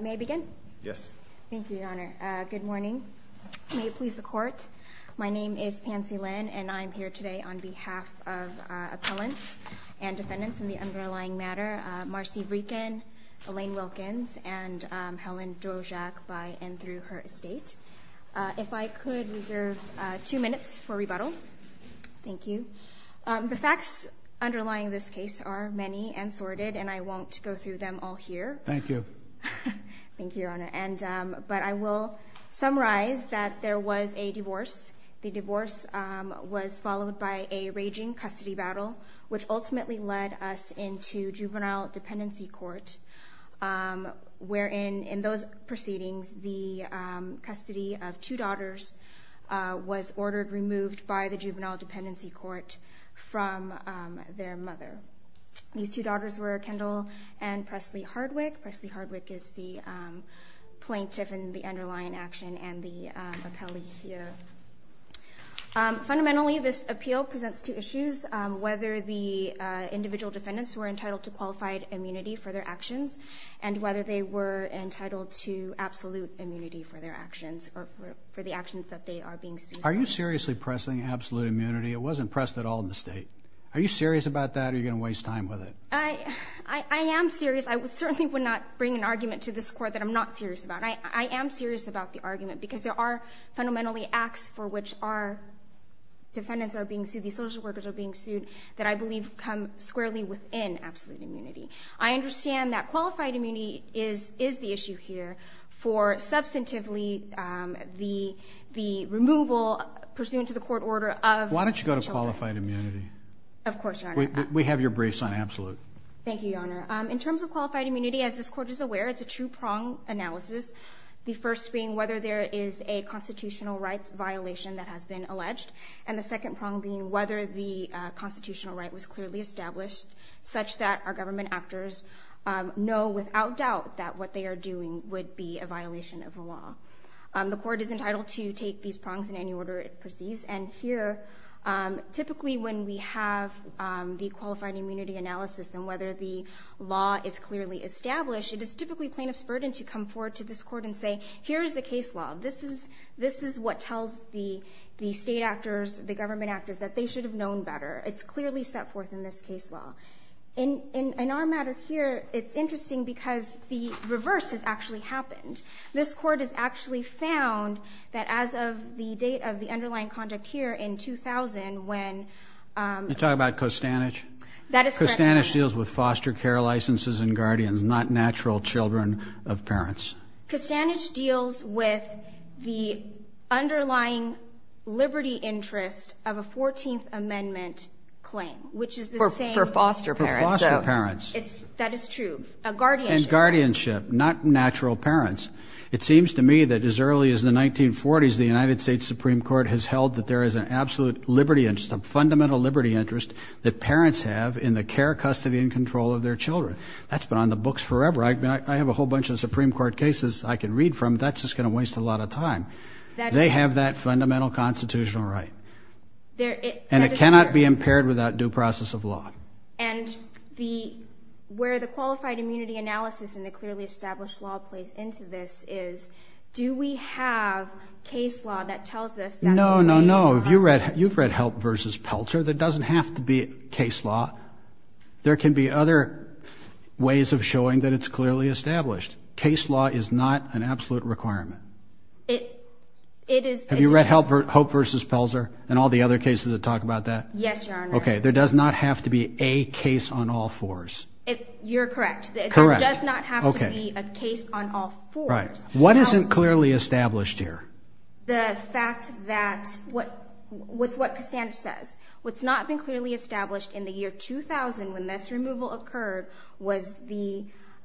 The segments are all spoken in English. May I begin? Yes. Thank you, Your Honor. Good morning. May it please the Court. My name is Pansy Lin, and I'm here today on behalf of appellants and defendants in the underlying matter, Marcia Vreeken, Elaine Wilkins, and Helen Drozak by and through her estate. If I could reserve two minutes for rebuttal. Thank you. The facts underlying this case are many and sordid, and I won't go through them all here. Thank you. Thank you, Your Honor. But I will summarize that there was a divorce. The divorce was followed by a raging custody battle, which ultimately led us into juvenile dependency court, where in those proceedings, the custody of two daughters was ordered removed by the juvenile dependency court from their mother. These two daughters were Kendall and Preslie Hardwick. Preslie Hardwick is the plaintiff in the underlying action and the appellee here. Fundamentally, this appeal presents two issues, whether the individual defendants were entitled to qualified immunity for their actions and whether they were entitled to absolute immunity for their actions or for the actions that they are being sued for. Are you seriously pressing absolute immunity? It wasn't pressed at all in the state. Are you serious about that or are you going to waste time with it? I am serious. I certainly would not bring an argument to this court that I'm not serious about. I am serious about the argument because there are fundamentally acts for which our defendants are being sued, these social workers are being sued, that I believe come squarely within absolute immunity. I understand that qualified immunity is the issue here for substantively the removal pursuant to the court order of... Why don't you go to qualified immunity? Of course, Your Honor. We have your brace on absolute. Thank you, Your Honor. In terms of qualified immunity, as this court is aware, it's a two-prong analysis. The first being whether there is a constitutional rights violation that has been alleged. And the second prong being whether the constitutional right was clearly established such that our government actors know without doubt that what they are doing would be a violation of the law. The court is entitled to take these prongs in any order it perceives. And here, typically when we have the qualified immunity analysis and whether the law is clearly established, it is typically plaintiff's burden to come forward to this court and say, here is the case law. This is what tells the state actors, the government actors that they should have known better. It's clearly set forth in this case law. In our matter here, it's interesting because the reverse has actually happened. This court has actually found that as of the date of the underlying conduct here in 2000, when... Are you talking about Costanich? That is correct, Your Honor. Costanich deals with foster care licenses and guardians, not natural children of parents. Costanich deals with the underlying liberty interest of a 14th Amendment claim, which is the same... For foster parents. For foster parents. That is true. A guardianship. And guardianship, not natural parents. It seems to me that as early as the 1940s, the United States Supreme Court has held that there is an absolute liberty interest, a fundamental liberty interest, that parents have in the care, custody, and control of their children. That's been on the books forever. I have a whole bunch of Supreme Court cases I can read from. That's just going to waste a lot of time. They have that fundamental constitutional right. And it cannot be impaired without due process of law. And where the qualified immunity analysis and the clearly established law plays into this is, do we have case law that tells us that... No, no, no. You've read Hope v. Pelzer. There doesn't have to be case law. There can be other ways of showing that it's clearly established. Case law is not an absolute requirement. It is... Have you read Hope v. Pelzer and all the other cases that talk about that? Yes, Your Honor. Okay. There does not have to be a case on all fours. You're correct. Correct. There does not have to be a case on all fours. What isn't clearly established here? The fact that... What's what Costanza says. What's not been clearly established in the year 2000 when this removal occurred was the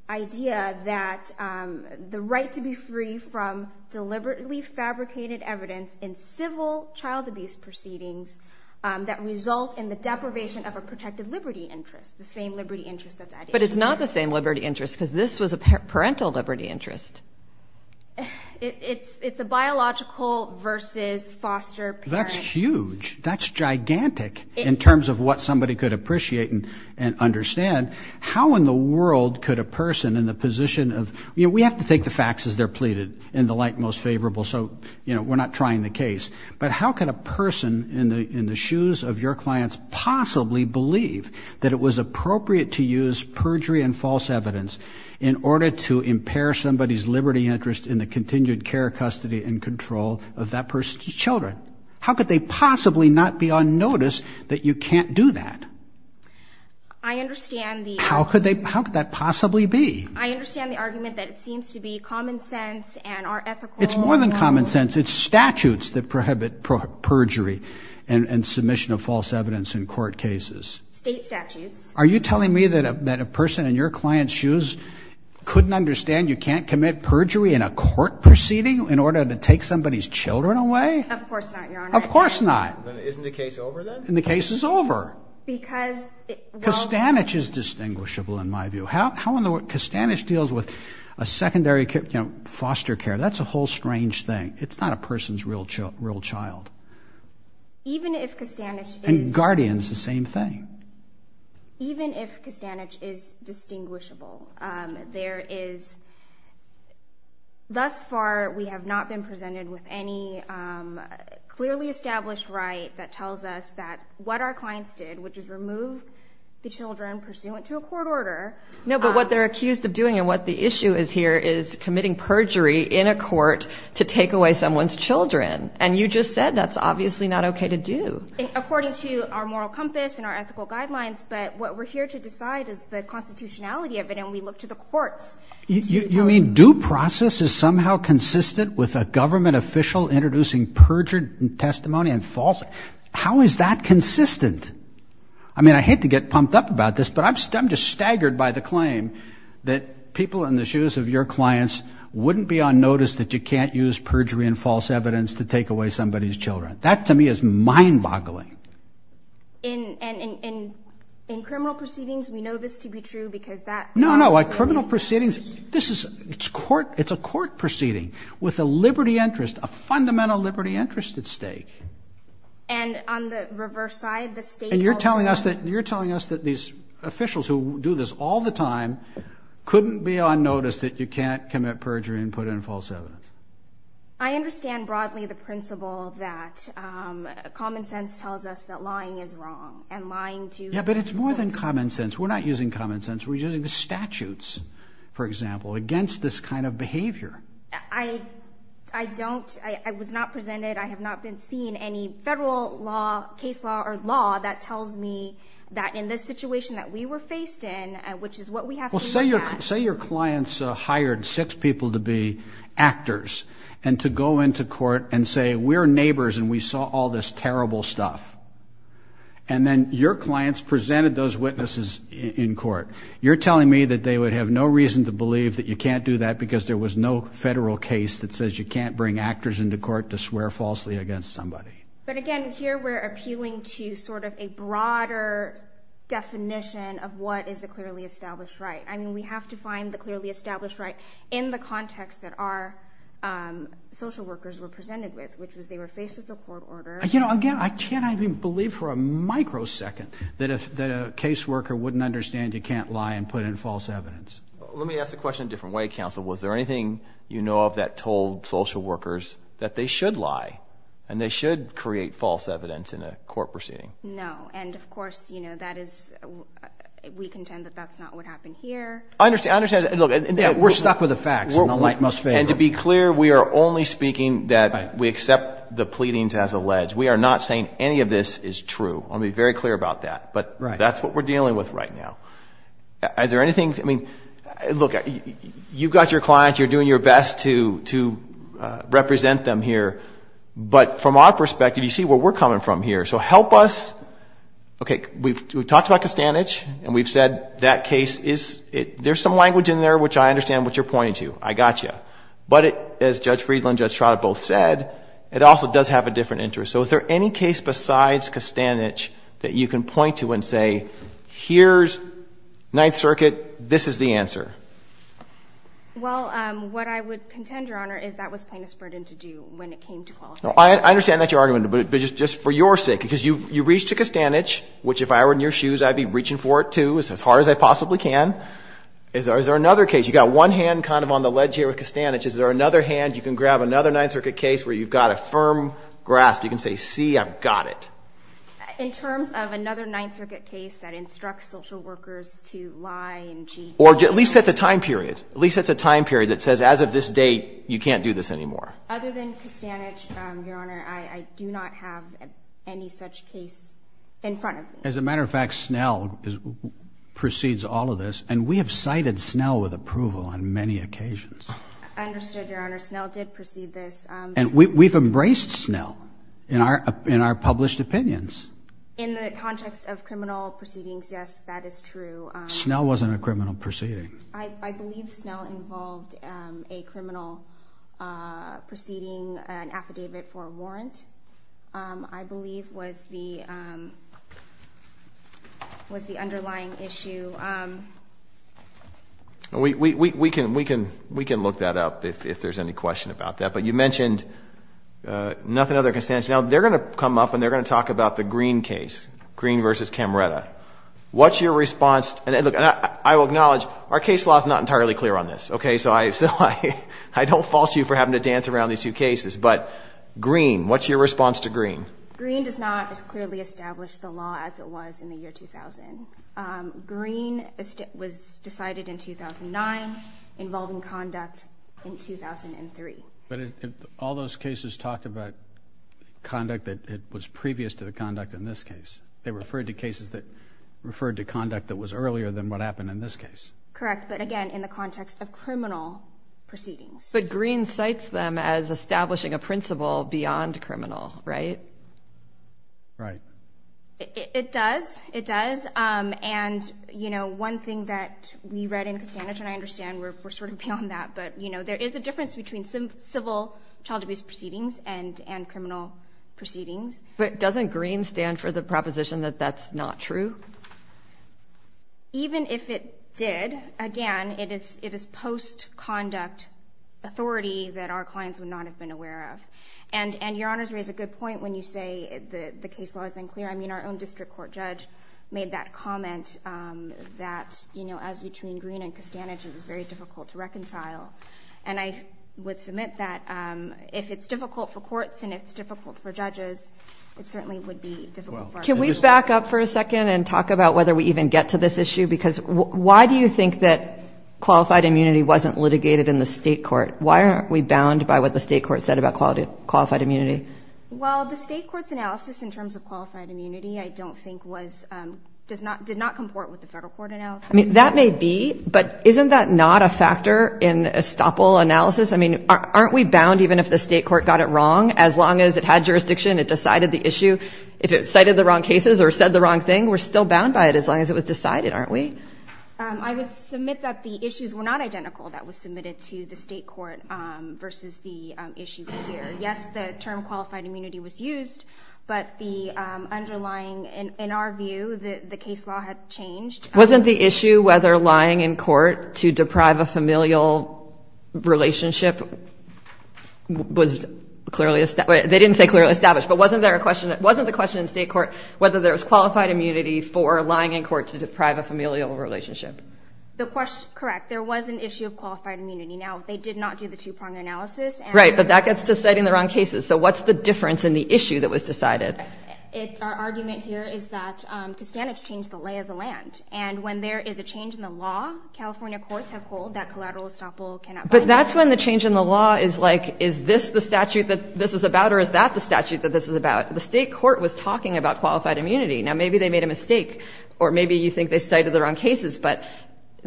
idea that the right to be free from deliberately fabricated evidence in civil child abuse proceedings that result in the deprivation of a protected liberty interest. The same liberty interest that's at issue here. But it's not the same liberty interest because this was a parental liberty interest. It's a biological versus foster parent... That's huge. That's gigantic in terms of what somebody could appreciate and understand. How in the world could a person in the position of... You know, we have to take the facts as they're pleaded in the light most favorable, so, you know, we're not trying the case. But how could a person in the shoes of your clients possibly believe that it was appropriate to use perjury and false evidence in order to impair somebody's liberty interest in the continued care, custody, and control of that person's children? How could they possibly not be on notice that you can't do that? I understand the... How could that possibly be? I understand the argument that it seems to be common sense and are ethical... It's more than common sense. It's statutes that prohibit perjury and submission of false evidence in court cases. State statutes. Are you telling me that a person in your client's shoes couldn't understand you can't commit perjury in a court proceeding in order to take somebody's children away? Of course not, Your Honor. Of course not. Then isn't the case over then? And the case is over. Because... Costanich is distinguishable in my view. How in the world... Costanich deals with a secondary, you know, foster care. That's a whole strange thing. It's not a person's real child. Even if Costanich is... And guardian is the same thing. Even if Costanich is distinguishable, there is... We have not been presented with any clearly established right that tells us that what our clients did, which is remove the children pursuant to a court order... No, but what they're accused of doing and what the issue is here is committing perjury in a court to take away someone's children. And you just said that's obviously not okay to do. According to our moral compass and our ethical guidelines, but what we're here to decide is the constitutionality of it, and we look to the courts. You mean due process is somehow consistent with a government official introducing perjured testimony and false... How is that consistent? I mean, I hate to get pumped up about this, but I'm just staggered by the claim that people in the shoes of your clients wouldn't be on notice that you can't use perjury and false evidence to take away somebody's children. That, to me, is mind-boggling. In criminal proceedings, we know this to be true because that... No, no, in criminal proceedings, it's a court proceeding with a liberty interest, a fundamental liberty interest at stake. And on the reverse side, the state also... And you're telling us that these officials who do this all the time couldn't be on notice that you can't commit perjury and put in false evidence. I understand broadly the principle that common sense tells us that lying is wrong and lying to... Yeah, but it's more than common sense. We're not using common sense. We're using the statutes, for example, against this kind of behavior. I don't... I was not presented, I have not been seen any federal law, case law or law that tells me that in this situation that we were faced in, which is what we have to look at... Well, say your clients hired six people to be actors and to go into court and say, we're neighbors and we saw all this terrible stuff. And then your clients presented those witnesses in court. You're telling me that they would have no reason to believe that you can't do that because there was no federal case that says you can't bring actors into court to swear falsely against somebody. But again, here we're appealing to sort of a broader definition of what is a clearly established right. I mean, we have to find the clearly established right in the context that our social workers were presented with, which was they were faced with a court order. You know, again, I can't even believe for a microsecond that a caseworker wouldn't understand you can't lie and put in false evidence. Let me ask the question a different way, counsel. Was there anything you know of that told social workers that they should lie and they should create false evidence in a court proceeding? No. And of course, you know, that is... We contend that that's not what happened here. I understand. We're stuck with the facts and the light must fade. And to be clear, we are only speaking that we accept the pleadings as alleged. We are not saying any of this is true. I want to be very clear about that. But that's what we're dealing with right now. Is there anything... I mean, look, you've got your clients. You're doing your best to represent them here. But from our perspective, you see where we're coming from here. So help us... Okay. We've talked about Costanich. And we've said that case is... There's some language in there which I understand what you're pointing to. I got you. But as Judge Friedland, Judge Trotter both said, it also does have a different interest. So is there any case besides Costanich that you can point to and say, here's Ninth Circuit, this is the answer? Well, what I would contend, Your Honor, is that was plaintiff's burden to do when it came to qualifying. I understand that's your argument. But just for your sake, because you reached to Costanich, which if I were in your shoes, I'd be reaching for it, too, as hard as I possibly can. Is there another case? You got one hand kind of on the ledge here with Costanich. Is there another hand? You can grab another Ninth Circuit case where you've got a firm grasp. You can say, see, I've got it. In terms of another Ninth Circuit case that instructs social workers to lie and cheat... Or at least set the time period. At least set the time period that says, as of this date, you can't do this anymore. Other than Costanich, Your Honor, I do not have any such case in front of me. As a matter of fact, Snell precedes all of this. And we have cited Snell with approval on many occasions. I understood, Your Honor. Snell did precede this. And we've embraced Snell in our published opinions. In the context of criminal proceedings, yes, that is true. Snell wasn't a criminal proceeding. I believe Snell involved a criminal proceeding, an affidavit for a warrant. I believe was the underlying issue. We can look that up if there's any question about that. But you mentioned nothing other than Costanich. Now, they're going to come up and they're going to talk about the Green case, Green v. Camreta. What's your response? And I will acknowledge our case law is not entirely clear on this. So I don't fault you for having to dance around these two cases. But Green, what's your response to Green? Green does not as clearly establish the law as it was in the year 2000. Green was decided in 2009, involving conduct in 2003. But all those cases talked about conduct that was previous to the conduct in this case. They referred to cases that referred to conduct that was earlier than what happened in this case. Correct, but, again, in the context of criminal proceedings. But Green cites them as establishing a principle beyond criminal, right? Right. It does. It does. And, you know, one thing that we read in Costanich, and I understand we're sort of beyond that, but, you know, there is a difference between civil child abuse proceedings and criminal proceedings. But doesn't Green stand for the proposition that that's not true? Even if it did, again, it is post-conduct authority that our clients would not have been aware of. And Your Honors raise a good point when you say the case law is unclear. I mean, our own district court judge made that comment that, you know, as between Green and Costanich, it was very difficult to reconcile. And I would submit that if it's difficult for courts and it's difficult for judges, it certainly would be difficult for our citizens. Can we back up for a second and talk about whether we even get to this issue? Because why do you think that qualified immunity wasn't litigated in the state court? Why aren't we bound by what the state court said about qualified immunity? Well, the state court's analysis in terms of qualified immunity, I don't think, did not comport with the federal court analysis. I mean, that may be, but isn't that not a factor in estoppel analysis? I mean, aren't we bound even if the state court got it wrong? As long as it had jurisdiction, it decided the issue. If it cited the wrong cases or said the wrong thing, we're still bound by it as long as it was decided, aren't we? I would submit that the issues were not identical that was submitted to the state court versus the issue here. Yes, the term qualified immunity was used, but the underlying, in our view, the case law had changed. Wasn't the issue whether lying in court to deprive a familial relationship was clearly established? They didn't say clearly established, but wasn't there a question, wasn't the question in state court whether there was qualified immunity for lying in court to deprive a familial relationship? Correct. There was an issue of qualified immunity. Now, they did not do the two-prong analysis. Right, but that gets to citing the wrong cases. So what's the difference in the issue that was decided? Our argument here is that Kustanich changed the lay of the land, and when there is a change in the law, California courts have called that collateral estoppel cannot bind us. But that's when the change in the law is like, is this the statute that this is about or is that the statute that this is about? The state court was talking about qualified immunity. Now, maybe they made a mistake, or maybe you think they cited the wrong cases, but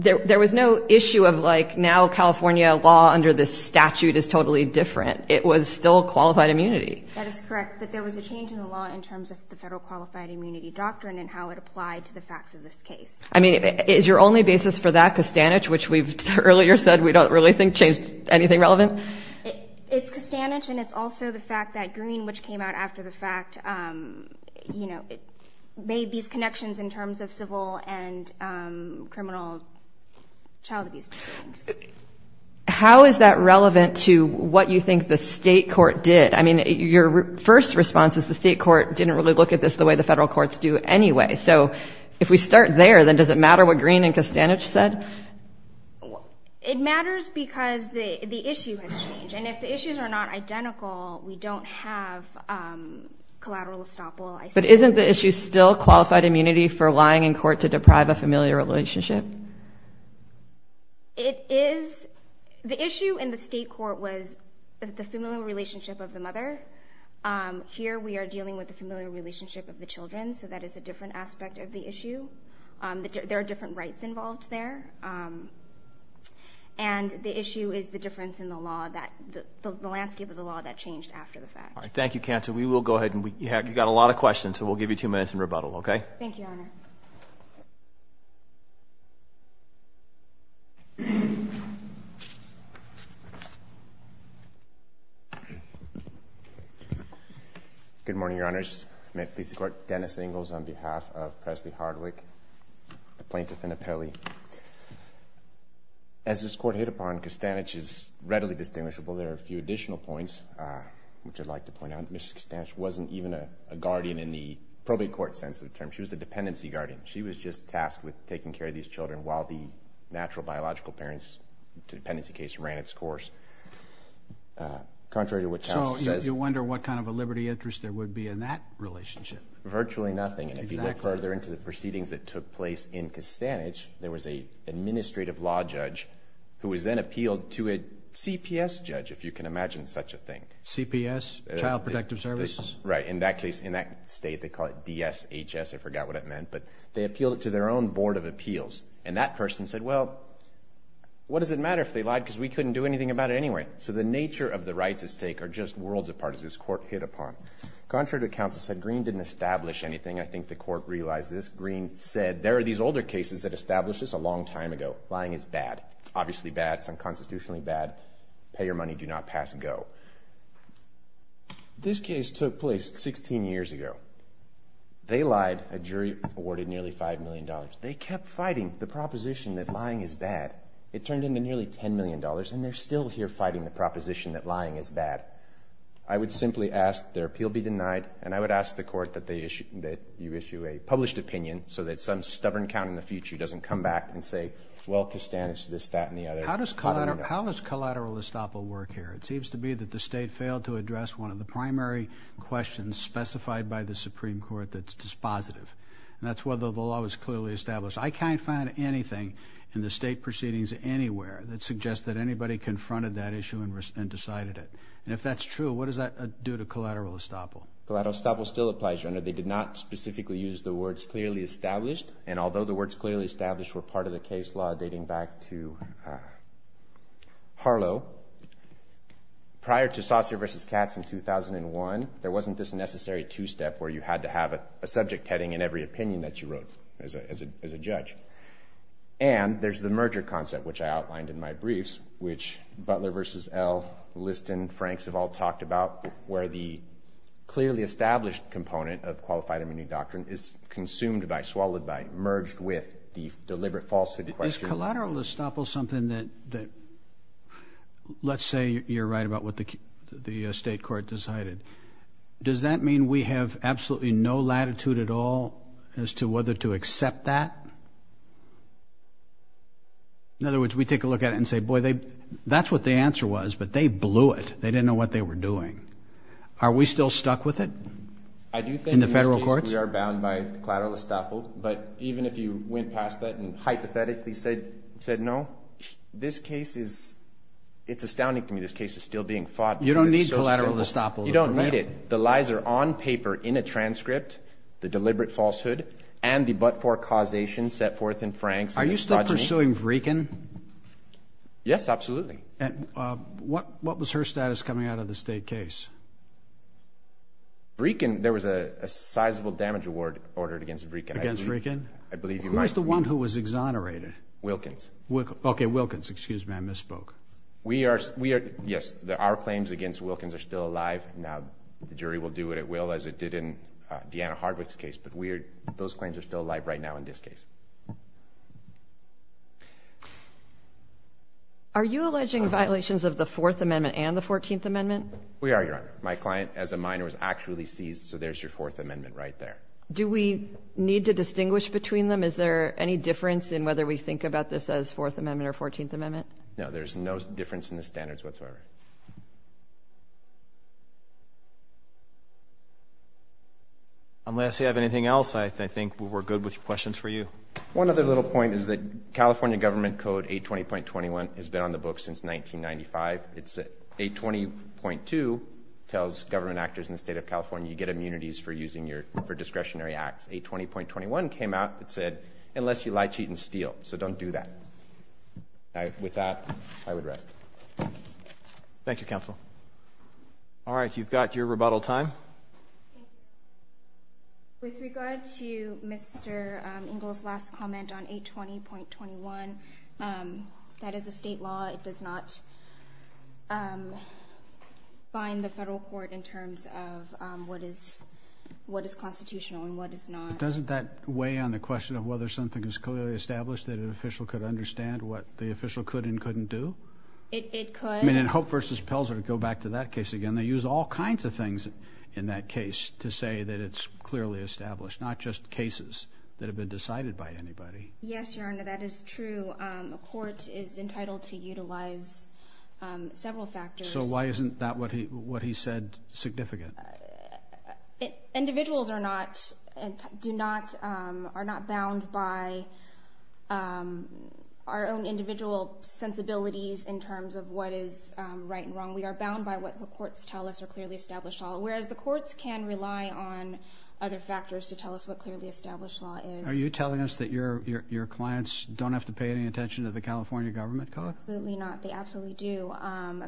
there was no issue of like, now California law under this statute is totally different. It was still qualified immunity. That is correct, but there was a change in the law in terms of the federal qualified immunity doctrine and how it applied to the facts of this case. I mean, is your only basis for that, Kustanich, which we've earlier said we don't really think changed anything relevant? It's Kustanich, and it's also the fact that Green, which came out after the fact, you know, made these connections in terms of civil and criminal child abuse cases. How is that relevant to what you think the state court did? I mean, your first response is the state court didn't really look at this the way the federal courts do anyway. So if we start there, then does it matter what Green and Kustanich said? It matters because the issue has changed, and if the issues are not identical, we don't have collateral estoppel. But isn't the issue still qualified immunity for lying in court to deprive a familiar relationship? It is. The issue in the state court was the familial relationship of the mother. Here we are dealing with the familial relationship of the children, so that is a different aspect of the issue. There are different rights involved there, and the issue is the difference in the law, the landscape of the law that changed after the fact. All right, thank you, Kanta. We will go ahead, and you've got a lot of questions, so we'll give you two minutes in rebuttal, okay? Thank you, Your Honor. Good morning, Your Honors. May it please the Court, Dennis Ingles on behalf of Presley Hardwick, a plaintiff in Appelli. As this Court hit upon, Kustanich is readily distinguishable. There are a few additional points which I'd like to point out. Mrs. Kustanich wasn't even a guardian in the probate court sense of the term. She was a dependency guardian. She was just tasked with taking care of these children while the natural biological parents dependency case ran its course. Contrary to what the House says. Well, you wonder what kind of a liberty interest there would be in that relationship. Virtually nothing. If you look further into the proceedings that took place in Kustanich, there was an administrative law judge who was then appealed to a CPS judge, if you can imagine such a thing. CPS, Child Protective Services? Right. In that case, in that state, they call it DSHS. I forgot what it meant, but they appealed it to their own board of appeals, and that person said, well, what does it matter if they lied because we couldn't do anything about it anyway? So the nature of the rights at stake are just worlds apart as this court hit upon. Contrary to what counsel said, Green didn't establish anything. I think the court realized this. Green said, there are these older cases that established this a long time ago. Lying is bad. Obviously bad. It's unconstitutionally bad. Pay your money. Do not pass and go. This case took place 16 years ago. They lied. A jury awarded nearly $5 million. They kept fighting the proposition that lying is bad. It turned into nearly $10 million, and they're still here fighting the proposition that lying is bad. I would simply ask their appeal be denied, and I would ask the court that you issue a published opinion so that some stubborn count in the future doesn't come back and say, well, Kostanich, this, that, and the other. How does collateral estoppel work here? It seems to me that the state failed to address one of the primary questions specified by the Supreme Court that's dispositive, and that's whether the law was clearly established. I can't find anything in the state proceedings anywhere that suggests that anybody confronted that issue and decided it. And if that's true, what does that do to collateral estoppel? Collateral estoppel still applies, Your Honor. They did not specifically use the words clearly established, and although the words clearly established were part of the case law dating back to Harlow, prior to Saucer v. Katz in 2001, there wasn't this necessary two-step where you had to have a subject heading in every opinion that you wrote as a judge. And there's the merger concept, which I outlined in my briefs, which Butler v. L, Liston, Franks have all talked about, where the clearly established component of qualified immunity doctrine is consumed by, swallowed by, merged with the deliberate falsehood question. Is collateral estoppel something that, let's say you're right about what the state court decided, does that mean we have absolutely no latitude at all as to whether to accept that? In other words, we take a look at it and say, boy, that's what the answer was, but they blew it. They didn't know what they were doing. Are we still stuck with it in the federal courts? I do think in this case we are bound by collateral estoppel, but even if you went past that and hypothetically said no, this case is, it's astounding to me this case is still being fought because it's so simple. You don't need collateral estoppel. You don't need it. The lies are on paper in a transcript, the deliberate falsehood, and the but-for causation set forth in Franks. Are you still pursuing Vrekin? Yes, absolutely. What was her status coming out of the state case? Vrekin, there was a sizable damage award ordered against Vrekin. Against Vrekin? I believe you might remember. Who was the one who was exonerated? Wilkins. Okay, Wilkins. Excuse me, I misspoke. Yes, our claims against Wilkins are still alive. Now, the jury will do what it will, as it did in Deanna Hardwick's case, but those claims are still alive right now in this case. Are you alleging violations of the Fourth Amendment and the Fourteenth Amendment? We are, Your Honor. My client as a minor was actually seized, so there's your Fourth Amendment right there. Do we need to distinguish between them? Is there any difference in whether we think about this as Fourth Amendment or Fourteenth Amendment? No, there's no difference in the standards whatsoever. Unless you have anything else, I think we're good with questions for you. One other little point is that California Government Code 820.21 has been on the books since 1995. It's 820.2 tells government actors in the state of California you get immunities for using your discretionary acts. 820.21 came out and said, unless you lie, cheat, and steal, so don't do that. With that, I would rest. Thank you, counsel. All right, you've got your rebuttal time. With regard to Mr. Ingle's last comment on 820.21, that is a state law. It does not bind the federal court in terms of what is constitutional and what is not. Doesn't that weigh on the question of whether something is clearly established that an official could understand what the official could and couldn't do? It could. I mean, in Hope v. Pelzer, to go back to that case again, they use all kinds of things in that case to say that it's clearly established, not just cases that have been decided by anybody. Yes, Your Honor, that is true. A court is entitled to utilize several factors. So why isn't that what he said significant? Individuals are not bound by our own individual sensibilities in terms of what is right and wrong. We are bound by what the courts tell us are clearly established law, whereas the courts can rely on other factors to tell us what clearly established law is. Are you telling us that your clients don't have to pay any attention to the California government code? Absolutely not. They absolutely do.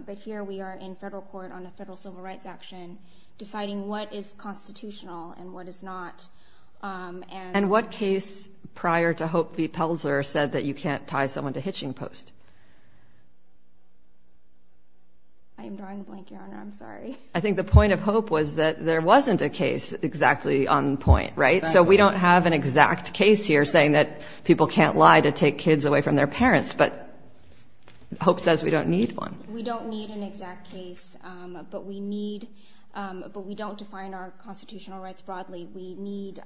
But here we are in federal court on a federal civil rights action deciding what is constitutional and what is not. And what case prior to Hope v. Pelzer said that you can't tie someone to hitching post? I am drawing a blank, Your Honor. I'm sorry. I think the point of Hope was that there wasn't a case exactly on point, right? Exactly. So we don't have an exact case here saying that people can't lie to take kids away from their parents, but Hope says we don't need one. We don't need an exact case, but we don't define our constitutional rights broadly. We need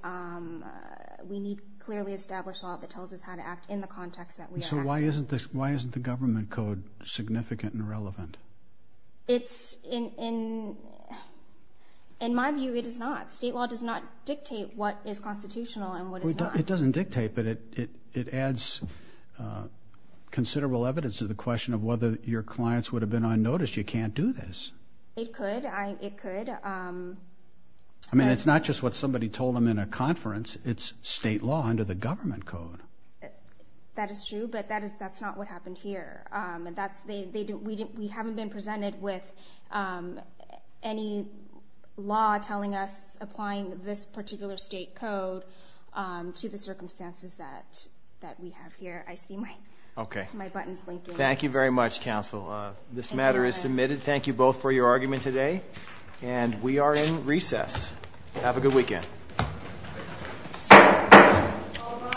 clearly established law that tells us how to act in the context that we are acting. So why isn't the government code significant and relevant? In my view, it is not. State law does not dictate what is constitutional and what is not. It doesn't dictate, but it adds considerable evidence to the question of whether your clients would have been unnoticed. You can't do this. It could. I mean, it's not just what somebody told them in a conference. It's state law under the government code. That is true, but that's not what happened here. We haven't been presented with any law telling us, applying this particular state code to the circumstances that we have here. I see my buttons blinking. Thank you very much, counsel. This matter is submitted. Thank you both for your argument today, and we are in recess. Have a good weekend.